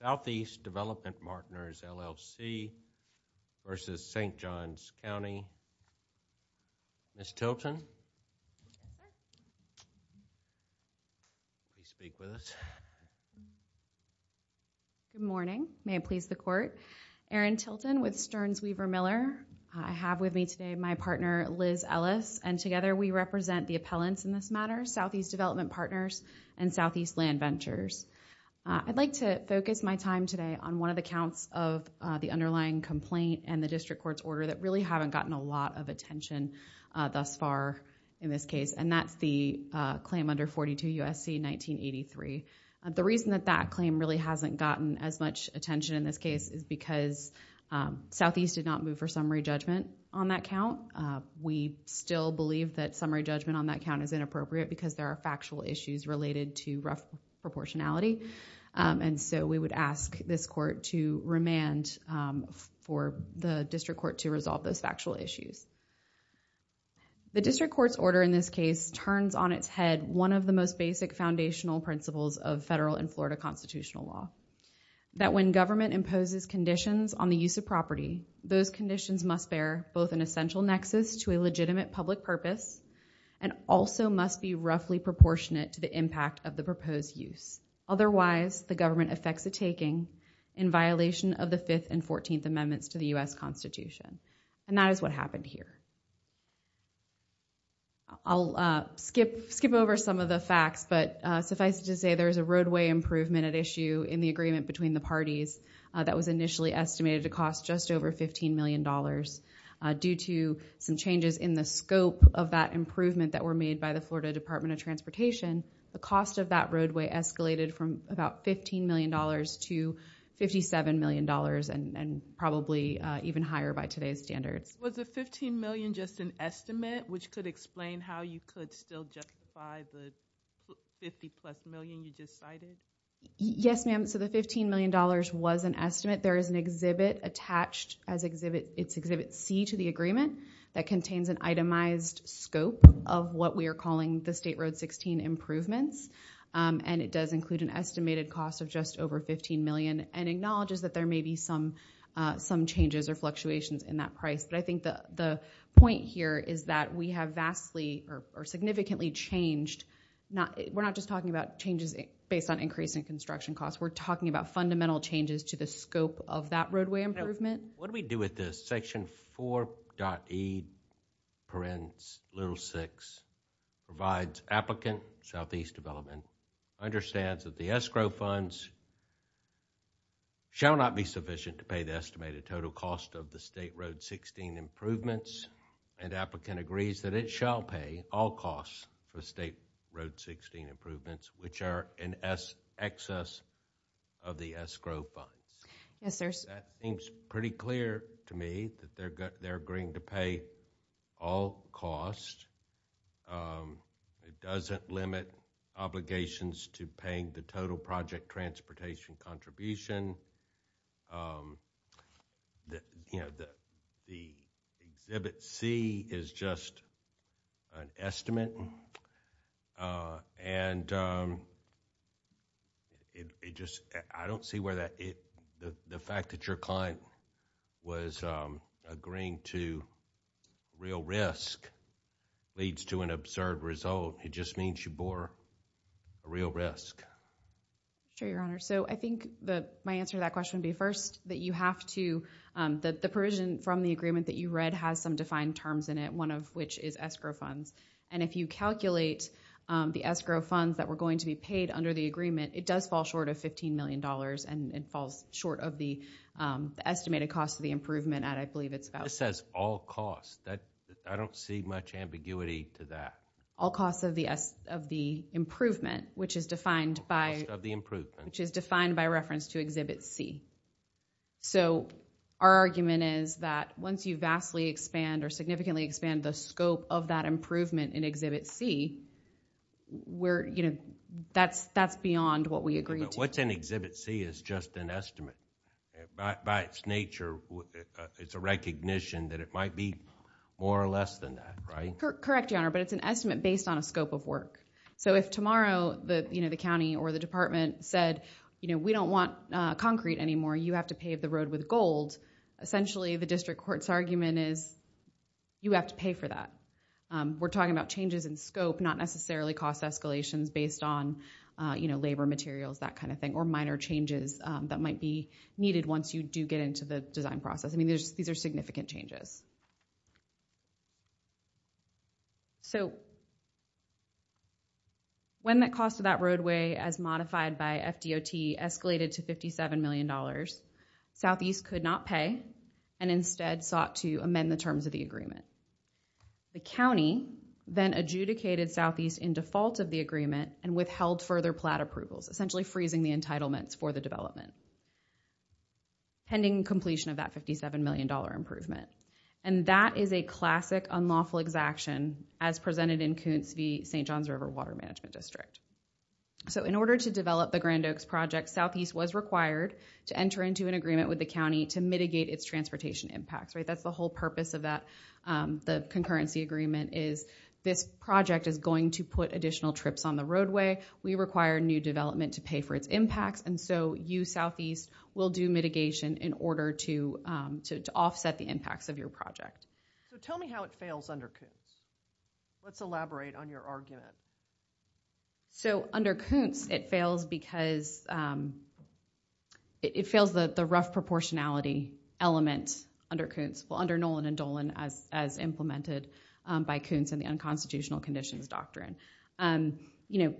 Southeast Development Partners, LLC v. St. Johns County. Ms. Tilton. Please speak with us. Good morning. May it please the court. Erin Tilton with Stearns Weaver Miller. I have with me today my partner Liz Ellis and together we represent the appellants in this I'd like to focus my time today on one of the counts of the underlying complaint and the district court's order that really haven't gotten a lot of attention thus far in this case and that's the claim under 42 U.S.C. 1983. The reason that that claim really hasn't gotten as much attention in this case is because Southeast did not move for summary judgment on that count. We still believe that summary judgment on that count is inappropriate because there are factual issues related to proportionality and so we would ask this court to remand for the district court to resolve those factual issues. The district court's order in this case turns on its head one of the most basic foundational principles of federal and Florida constitutional law that when government imposes conditions on the use of property those conditions must bear both an essential nexus to a legitimate public purpose and also must be roughly proportionate to the impact of the proposed use. Otherwise the government affects the taking in violation of the 5th and 14th amendments to the U.S. Constitution and that is what happened here. I'll skip skip over some of the facts but suffice to say there is a roadway improvement at issue in the agreement between the parties that was estimated to cost just over $15 million due to some changes in the scope of that improvement that were made by the Florida Department of Transportation. The cost of that roadway escalated from about $15 million to $57 million and probably even higher by today's standards. Was the $15 million just an estimate which could explain how you could still justify the 50 plus million you just cited? Yes ma'am so the $15 million was an estimate there is an exhibit attached as exhibit it's exhibit c to the agreement that contains an itemized scope of what we are calling the state road 16 improvements and it does include an estimated cost of just over 15 million and acknowledges that there may be some some changes or fluctuations in that price but I point here is that we have vastly or significantly changed not we're not just talking about changes based on increasing construction costs we're talking about fundamental changes to the scope of that roadway improvement. What do we do with this section 4.e parens little six provides applicant southeast development understands that the escrow funds shall not be sufficient to pay estimated total cost of the state road 16 improvements and applicant agrees that it shall pay all costs for state road 16 improvements which are in s excess of the escrow funds yes there's that seems pretty clear to me that they're they're agreeing to pay all costs it doesn't limit obligations to paying the total project transportation contribution that you know the the exhibit c is just an estimate uh and um it just I don't see where that it the the fact that your client was um agreeing to real risk leads to an absurd result it just means you bore a real risk sure your honor so I think the my answer to that question would be first that you have to um that the provision from the agreement that you read has some defined terms in it one of which is escrow funds and if you calculate um the escrow funds that were going to be paid under the agreement it does fall short of 15 million dollars and it falls short of the estimated cost of the improvement at I believe it's about it says all costs that I don't see much ambiguity to that all costs of of the improvement which is defined by of the improvement which is defined by reference to exhibit c so our argument is that once you vastly expand or significantly expand the scope of that improvement in exhibit c we're you know that's that's beyond what we agree to what's in exhibit c is just an estimate by its nature it's a recognition that it might be more or less than right correct your honor but it's an estimate based on a scope of work so if tomorrow the you know the county or the department said you know we don't want uh concrete anymore you have to pave the road with gold essentially the district court's argument is you have to pay for that we're talking about changes in scope not necessarily cost escalations based on you know labor materials that kind of thing or minor changes that might be needed once you do get into the design process I mean there's these are there's a lot of things that we can do to make sure that we don't have to pay for that so when that cost of that roadway as modified by FDOT escalated to 57 million dollars southeast could not pay and instead sought to amend the terms of the agreement the county then adjudicated southeast in default of the agreement and withheld further plat approvals essentially freezing the entitlements for the development pending completion of that 57 million dollar improvement and that is a classic unlawful exaction as presented in Koontz v St. John's River Water Management District so in order to develop the Grand Oaks project southeast was required to enter into an agreement with the county to mitigate its transportation impacts right that's the whole purpose of that the concurrency agreement is this project is going to put additional trips on the roadway we require new development to for its impacts and so you southeast will do mitigation in order to to offset the impacts of your project so tell me how it fails under Koontz let's elaborate on your argument so under Koontz it fails because it fails the the rough proportionality element under Koontz well under Nolan and Dolan as as implemented by Koontz and the unconstitutional conditions doctrine and you know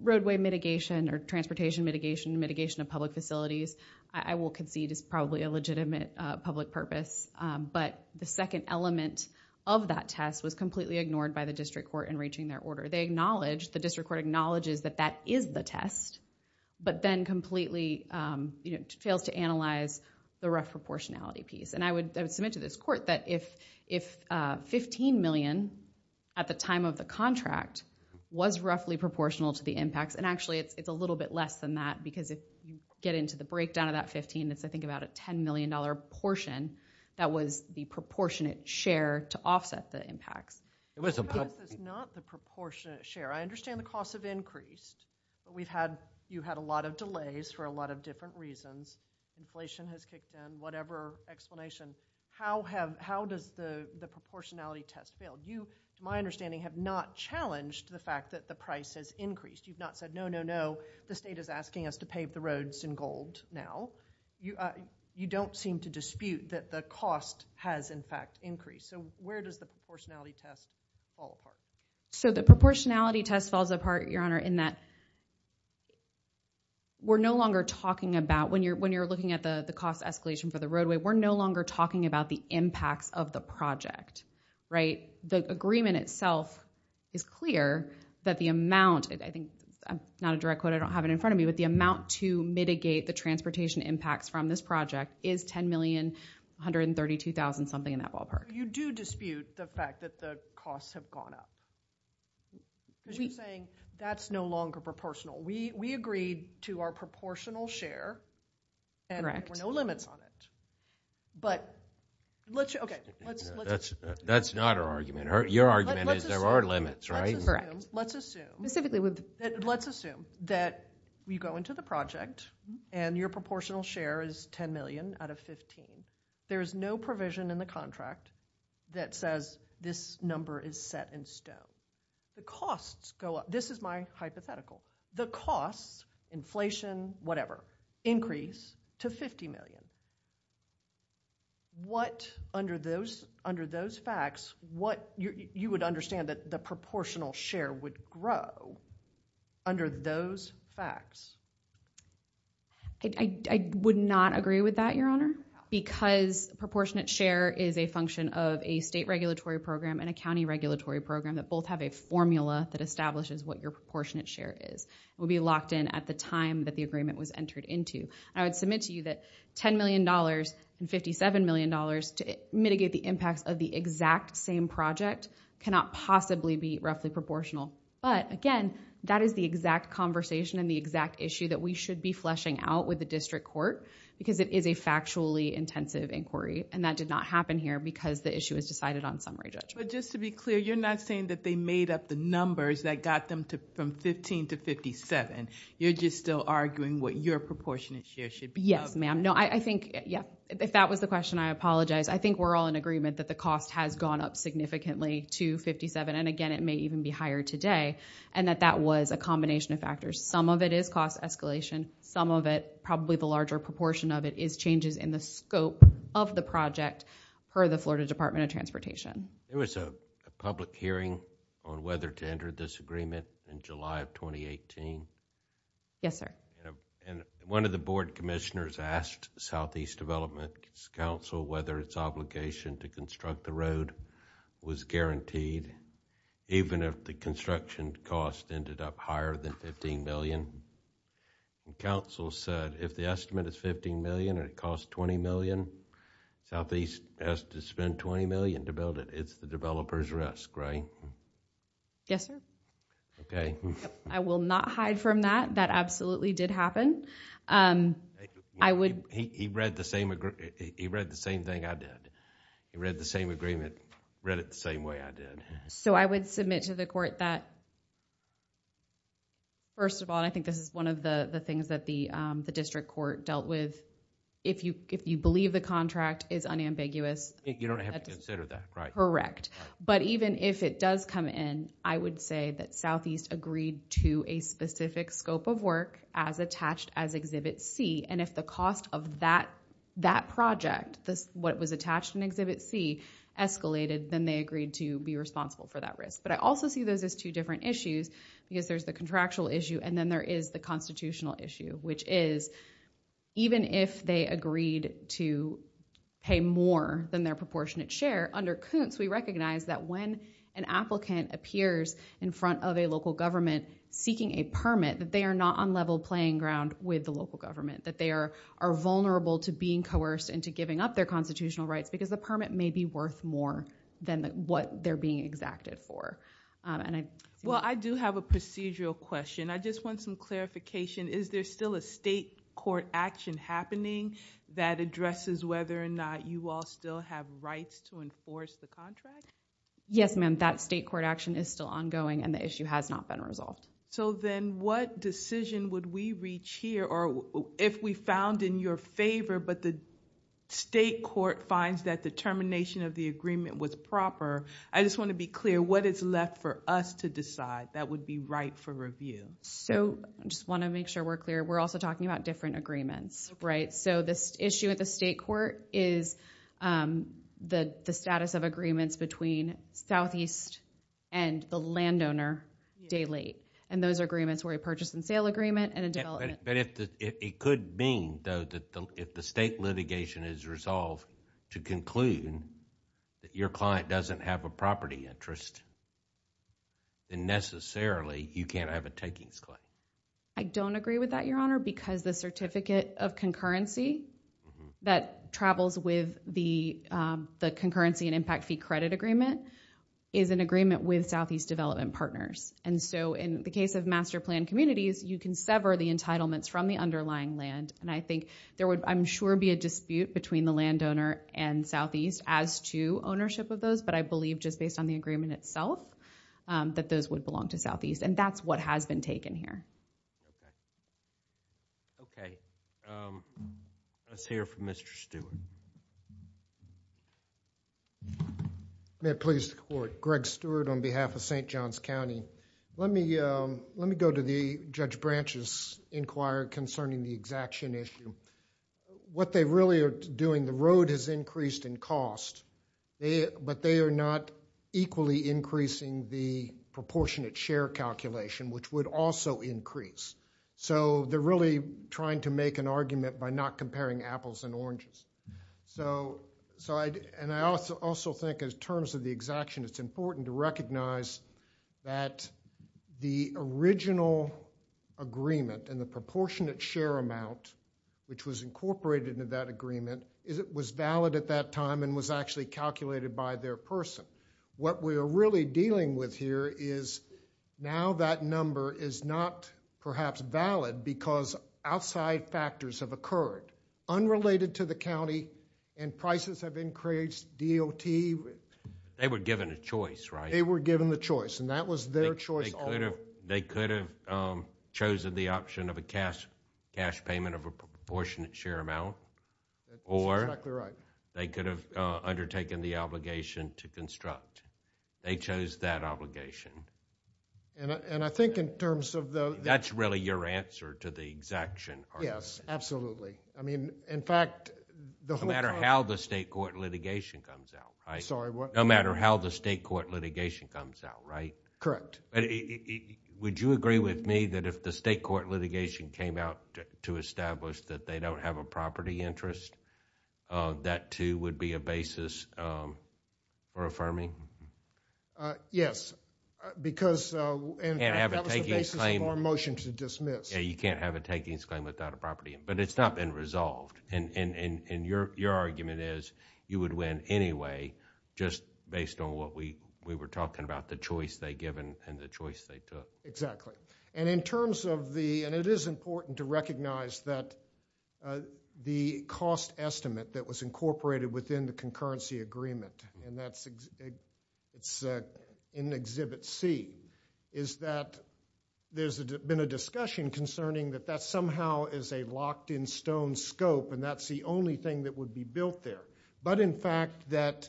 roadway mitigation or transportation mitigation mitigation of public facilities I will concede is probably a legitimate public purpose but the second element of that test was completely ignored by the district court in reaching their order they acknowledge the district court acknowledges that that is the test but then completely you know fails to analyze the rough proportionality piece and I would submit to this court that if if 15 million at the time of the contract was roughly proportional to the impacts and actually it's a little bit less than that because if you get into the breakdown of that 15 that's I think about a 10 million dollar portion that was the proportionate share to offset the impacts it was not the proportionate share I understand the costs have increased but we've had you had a lot of delays for a lot of different reasons inflation has kicked in whatever explanation how have how does the the proportionality test you to my understanding have not challenged the fact that the price has increased you've not said no no no the state is asking us to pave the roads in gold now you uh you don't seem to dispute that the cost has in fact increased so where does the proportionality test fall apart so the proportionality test falls apart your honor in that we're no longer talking about when you're when you're looking at the the cost escalation for the roadway we're no longer talking about the impacts of the project right the agreement itself is clear that the amount I think I'm not a direct quote I don't have it in front of me but the amount to mitigate the transportation impacts from this project is 10 million 132 thousand something in that ballpark you do dispute the fact that the costs have gone up you're saying that's no longer proportional we we agreed to our proportional share and there were no limits on it but let's okay let's that's that's not our argument your argument is there are limits right let's assume specifically with let's assume that we go into the project and your proportional share is 10 million out of 15 there is no provision in the contract that says this number is set in stone the costs go up this is my hypothetical the costs inflation whatever increase to 50 million what under those under those facts what you would understand that the proportional share would grow under those facts I would not agree with that your honor because proportionate share is a function of a state regulatory program and a county regulatory program that both have a formula that establishes what your proportionate share is will be locked in at the time that the agreement was entered into I would submit to you that 10 million dollars and 57 million dollars to mitigate the impacts of the exact same project cannot possibly be roughly proportional but again that is the exact conversation and the exact issue that we should be fleshing out with the district court because it is a factually intensive inquiry and that did not happen here because the issue was decided on summary judge but just to be clear you're not saying that they made up the numbers that got them to from 15 to 57 you're just still arguing what your proportionate share should be yes ma'am no I think yeah if that was the question I apologize I think we're all in agreement that the cost has gone up significantly to 57 and again it may even be higher today and that that was a combination of factors some of it is cost escalation some of it probably the larger proportion of it is changes in the scope of the project for the a public hearing on whether to enter this agreement in july of 2018 yes sir and one of the board commissioners asked southeast development council whether its obligation to construct the road was guaranteed even if the construction cost ended up higher than 15 million council said if the estimate is 15 million it costs 20 million southeast has to spend 20 million to build it it's the developer's risk right yes sir okay I will not hide from that that absolutely did happen um I would he read the same he read the same thing I did he read the same agreement read it the same way I did so I would submit to the court that first of all I think this is one of the the things that the um the district court dealt with if you if you believe the contract is unambiguous you don't have to consider that right correct but even if it does come in I would say that southeast agreed to a specific scope of work as attached as exhibit c and if the cost of that that project this what was attached in exhibit c escalated then they agreed to be responsible for that risk but I also see those as two different issues because there's the contractual issue and then there is the constitutional issue which is even if they agreed to pay more than their proportionate share under coons we recognize that when an applicant appears in front of a local government seeking a permit that they are not on level playing ground with the local government that they are are vulnerable to being coerced into giving up their constitutional rights because the permit may be worth more than what they're being exacted for and I well I do have a procedural question I just want some clarification is there still a state court action happening that addresses whether or not you all still have rights to enforce the contract yes ma'am that state court action is still ongoing and the issue has not been resolved so then what decision would we reach here or if we found in your favor but the state court finds that determination of the agreement was proper I just want to be clear what is left for us to decide that would be right for review so I just want to make sure we're clear we're also talking about different agreements right so this issue at the state court is the the status of agreements between southeast and the landowner day late and those agreements were a purchase and sale agreement and a development but if it could mean though that if the state litigation is resolved to conclude that your client doesn't have a property interest then necessarily you can't have a takings claim I don't agree with that your honor because the certificate of concurrency that travels with the the concurrency and impact fee credit agreement is an agreement with southeast development partners and so in the case of master plan communities you can sever the entitlements from the underlying land and I think there would I'm sure be a dispute between the landowner and southeast as to ownership of those but I believe just based on the agreement itself that those would belong to southeast and that's what has been taken here okay let's hear from Mr. Stewart may it please the court Greg Stewart on behalf of St. John's County let me let me go to the Judge Branch's inquiry concerning the exaction issue what they really are doing the road has increased in cost they but they are not equally increasing the proportionate share calculation which would also increase so they're really trying to make an argument by not comparing apples and oranges so so I and I also also think as terms of the exaction it's important to recognize that the original agreement and the proportionate share amount which was incorporated into that is it was valid at that time and was actually calculated by their person what we are really dealing with here is now that number is not perhaps valid because outside factors have occurred unrelated to the county and prices have increased dot they were given a choice right they were given the choice and that was their choice they could have chosen the option of a cash cash payment of proportionate share amount or they could have undertaken the obligation to construct they chose that obligation and I think in terms of the that's really your answer to the exaction yes absolutely I mean in fact no matter how the state court litigation comes out right sorry no matter how the state court litigation comes out right correct would you agree with me that if state court litigation came out to establish that they don't have a property interest uh that too would be a basis um for affirming uh yes because uh and have a basis of our motion to dismiss yeah you can't have a takings claim without a property but it's not been resolved and and and your your argument is you would win anyway just based on what we we were talking about the choice they given and the choice they took exactly and in terms of the and it is important to recognize that uh the cost estimate that was incorporated within the concurrency agreement and that's it's uh in exhibit c is that there's been a discussion concerning that that somehow is a locked in stone scope and that's the only thing that would be built there but in fact that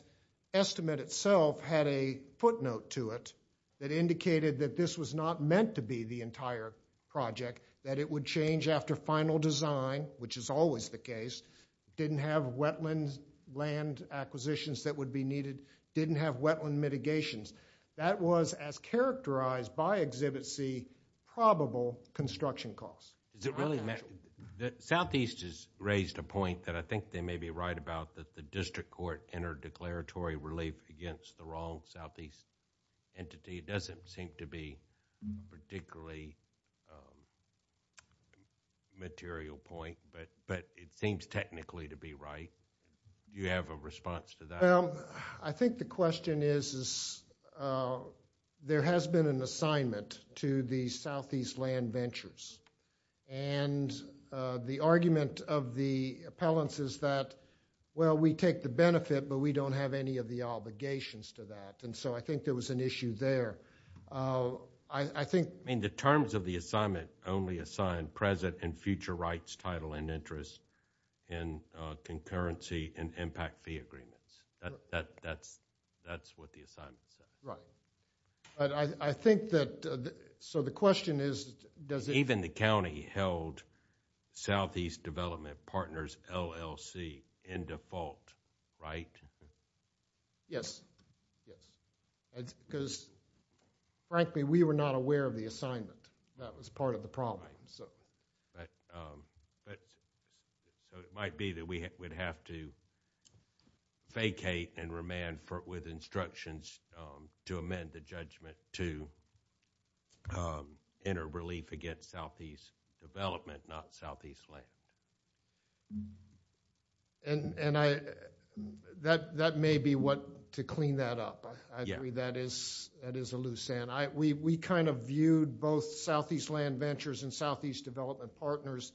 estimate itself had a footnote to it that indicated that this was not meant to be the entire project that it would change after final design which is always the case didn't have wetlands land acquisitions that would be needed didn't have wetland mitigations that was as characterized by exhibit c probable construction costs does it really matter the southeast has raised a point that i think they may be right about that the district court entered declaratory relief against the wrong southeast entity it doesn't seem to be particularly material point but but it seems technically to be right you have a response to that i think the question is is uh there has been an assignment to the southeast land ventures and uh the argument of the appellants is that well we take the benefit but we don't have any of the obligations to that and so i think there was an issue there uh i i think i mean the terms of the assignment only assign present and future rights title and interest in uh concurrency and impact fee agreements that that that's that's what the assignment is right but i i think that so the question is does even the county held southeast development partners llc in default right yes yes because frankly we were not aware of the assignment that was part of the problem so but um but so it might be that we would have to vacate and remand for with instructions um to amend the judgment to um enter relief against southeast development not southeast land and and i that that may be what to clean that up i agree that is that is a loose end i we we kind of viewed both southeast land ventures and southeast development partners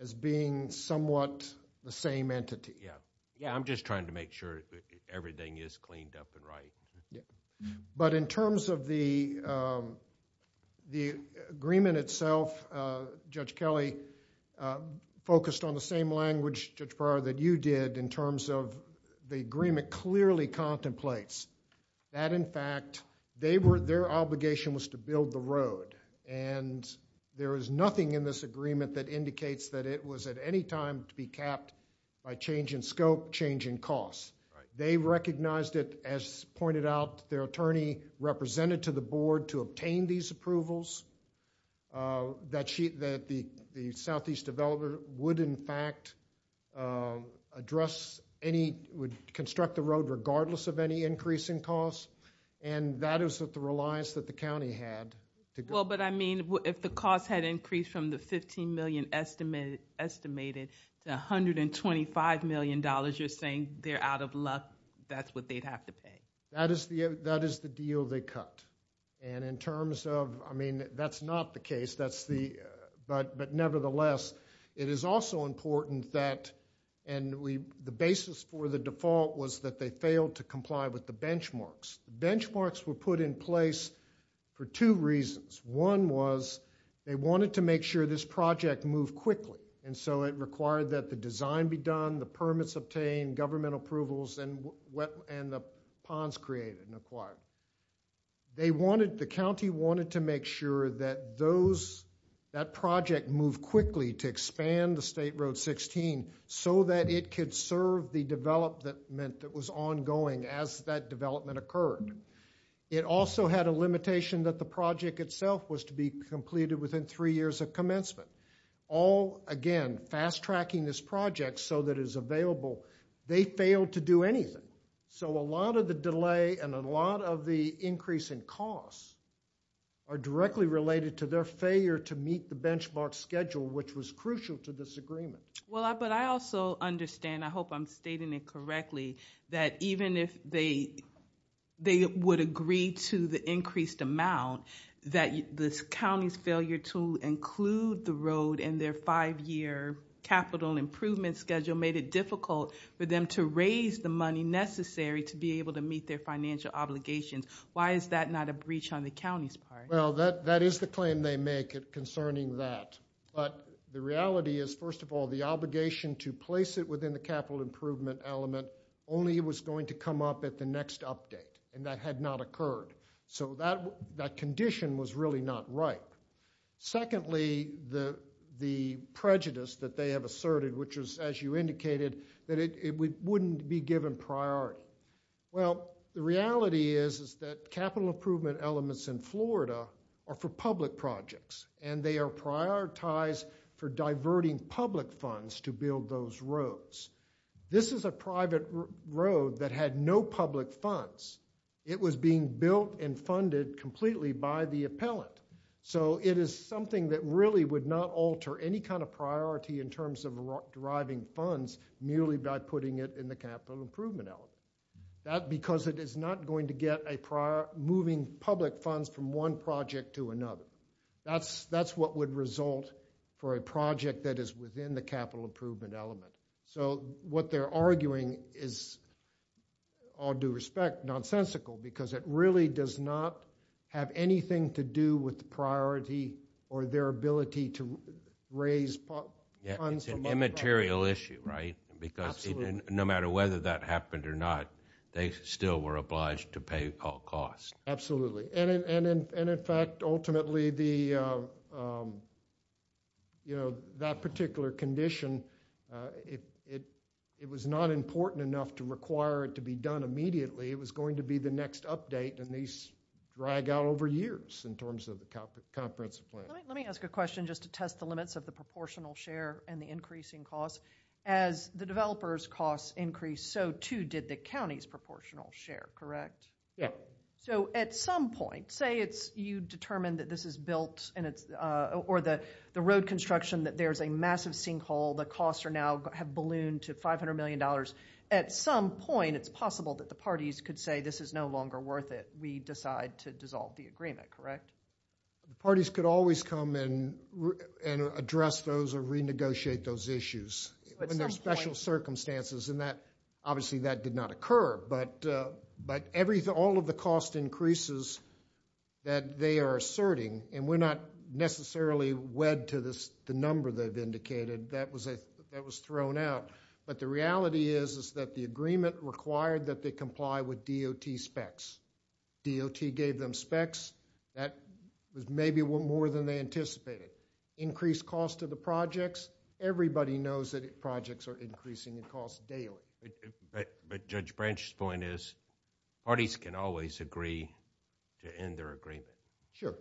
as being somewhat the same entity yeah yeah i'm just trying to make sure that everything is cleaned up and right yeah but in terms of the um the agreement itself uh judge kelly focused on the same language judge bar that you did in terms of the agreement clearly contemplates that in fact they were their obligation was to build the road and there is nothing in this agreement that indicates that it was at any time to be capped by change in scope change in costs they recognized it as pointed out their attorney represented to the board to obtain these approvals uh that she that the the southeast developer would in fact uh address any would construct the road regardless of any increase in costs and that is that the reliance that the county had well but i mean if the cost had increased from the 15 million estimated estimated to 125 million you're saying they're out of luck that's what they'd have to pay that is the that is the deal they cut and in terms of i mean that's not the case that's the but but nevertheless it is also important that and we the basis for the default was that they failed to comply with the benchmarks benchmarks were put in place for two reasons one was they wanted to make sure this project moved quickly and so it required that the design be done the permits obtained governmental approvals and what and the ponds created and acquired they wanted the county wanted to make sure that those that project moved quickly to expand the state road 16 so that it could serve the development that was ongoing as that development occurred it also had a limitation that the project itself was be completed within three years of commencement all again fast tracking this project so that is available they failed to do anything so a lot of the delay and a lot of the increase in costs are directly related to their failure to meet the benchmark schedule which was crucial to this agreement well but i also understand i hope i'm stating it correctly that even if they they would agree to the increased amount that this county's failure to include the road in their five-year capital improvement schedule made it difficult for them to raise the money necessary to be able to meet their financial obligations why is that not a breach on the county's part well that that is the claim they make it concerning that but the reality is first of all the obligation to place it within the capital improvement element only was going to come up at the next update and that had not occurred so that that condition was really not right secondly the the prejudice that they have asserted which was as you indicated that it wouldn't be given priority well the reality is is that capital improvement elements in florida are for public projects and they are prioritized for diverting public funds to build those roads this is a private road that had no public funds it was being built and funded completely by the appellant so it is something that really would not alter any kind of priority in terms of deriving funds merely by putting it in the capital improvement element that because it is not going to get a prior moving public funds from one project to another that's that's what would result for a what they're arguing is all due respect nonsensical because it really does not have anything to do with priority or their ability to raise funds it's an immaterial issue right because no matter whether that happened or not they still were obliged to pay all costs absolutely and in and in fact ultimately the um you know that particular condition uh it it it was not important enough to require it to be done immediately it was going to be the next update and these drag out over years in terms of the comprehensive plan let me ask a question just to test the limits of the proportional share and the increasing costs as the developers costs increased so too did the county's proportional share correct yeah so at some point say it's you determine that this is built and it's uh or the the road construction that there's a massive sinkhole the costs are now have ballooned to 500 million dollars at some point it's possible that the parties could say this is no longer worth it we decide to dissolve the agreement correct the parties could always come in and address those or renegotiate those issues under special circumstances and that obviously that did not occur but uh but everything all of the cost increases that they are asserting and we're not necessarily wed to this the number they've indicated that was a that was thrown out but the reality is is that the agreement required that they comply with dot specs dot gave them specs that was maybe more than they anticipated increased cost of the projects everybody knows that projects are increasing in cost daily but judge branch's point is parties can always agree to end their agreement sure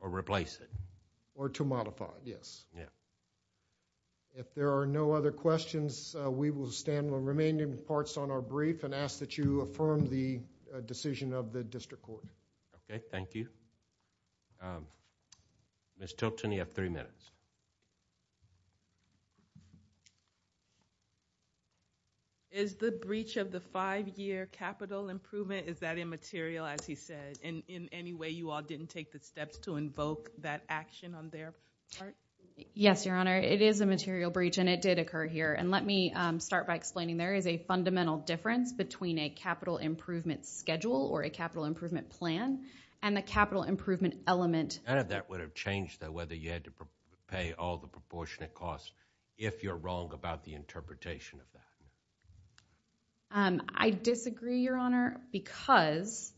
or replace it or to modify it yes yeah if there are no other questions we will stand on remaining parts on our brief and ask that you affirm the decision of the district court okay thank you um miss tilton you have three minutes is the breach of the five-year capital improvement is that immaterial as he said and in any way you all didn't take the steps to invoke that action on their part yes your honor it is a material breach and it did occur here and let me um start by explaining there is a difference between a capital improvement schedule or a capital improvement plan and the capital improvement element none of that would have changed though whether you had to pay all the proportionate costs if you're wrong about the interpretation of that um i disagree your honor because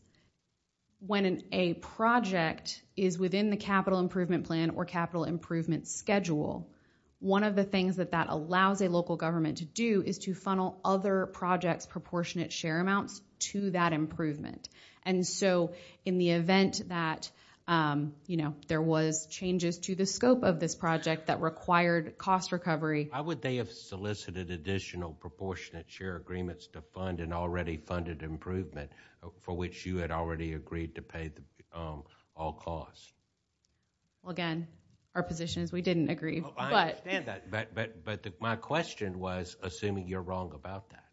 when a project is within the capital improvement plan or capital improvement schedule one of the things that that allows a local government to do is to funnel other projects proportionate share amounts to that improvement and so in the event that um you know there was changes to the scope of this project that required cost recovery how would they have solicited additional proportionate share agreements to fund an already funded improvement for which you had already agreed to pay the all costs well again our position is we didn't agree i understand that but but but my question was assuming you're wrong about that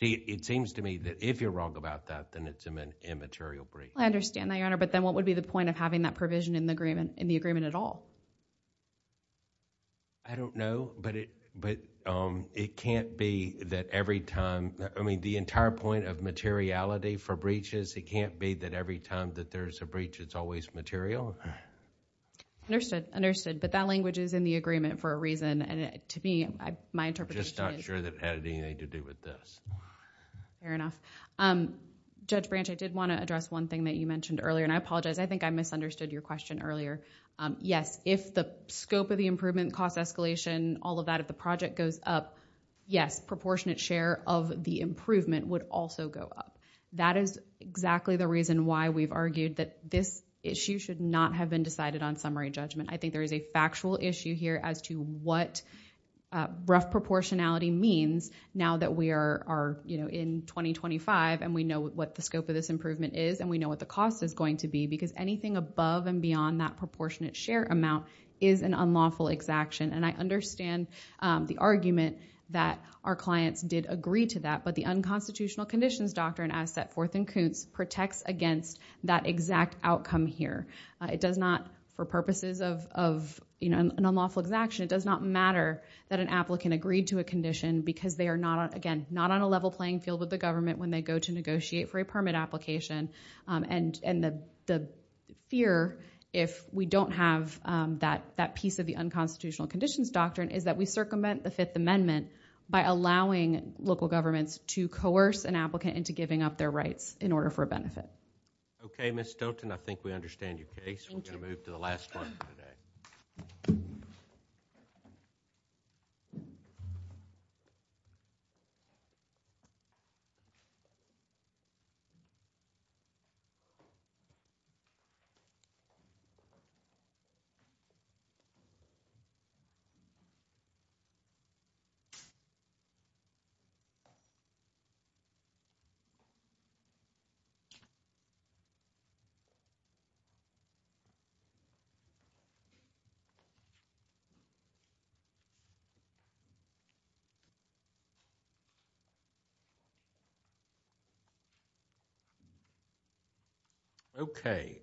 see it seems to me that if you're wrong about that then it's an immaterial breach i understand that your honor but then what would be the point of having that provision in the agreement in the agreement at all i don't know but it but um it can't be that every time i mean the entire point of materiality for breaches it can't be that every time that there's a breach it's always material understood understood but that language is in the agreement for a reason and to me my interpretation just not sure that had anything to do with this fair enough um judge branch i did want to address one thing that you mentioned earlier and i apologize i think i misunderstood your question earlier um yes if the scope of the improvement cost escalation all of that if the project goes up yes proportionate share of the improvement would also go up that is exactly the reason why we've argued that this issue should not have been decided on summary judgment i think there is a factual issue here as to what uh rough proportionality means now that we are are you know in 2025 and we know what the scope of this improvement is and we know what the cost is going to be because anything above and beyond that proportionate share amount is an unlawful exaction and i understand um the argument that our clients did agree to that but the unconstitutional conditions doctrine as set forth in coons protects against that exact outcome here it does not for purposes of of you know an unlawful exaction it does not matter that an applicant agreed to a condition because they are not again not on a level playing field with the government when they go to negotiate for a permit application um and and the the fear if we don't have um that that piece of the unconstitutional conditions doctrine is that we circumvent the fifth amendment by allowing local governments to coerce an applicant into giving up their rights in order for a benefit okay miss stilton i think we understand your case we're going to move to the last part of the day so okay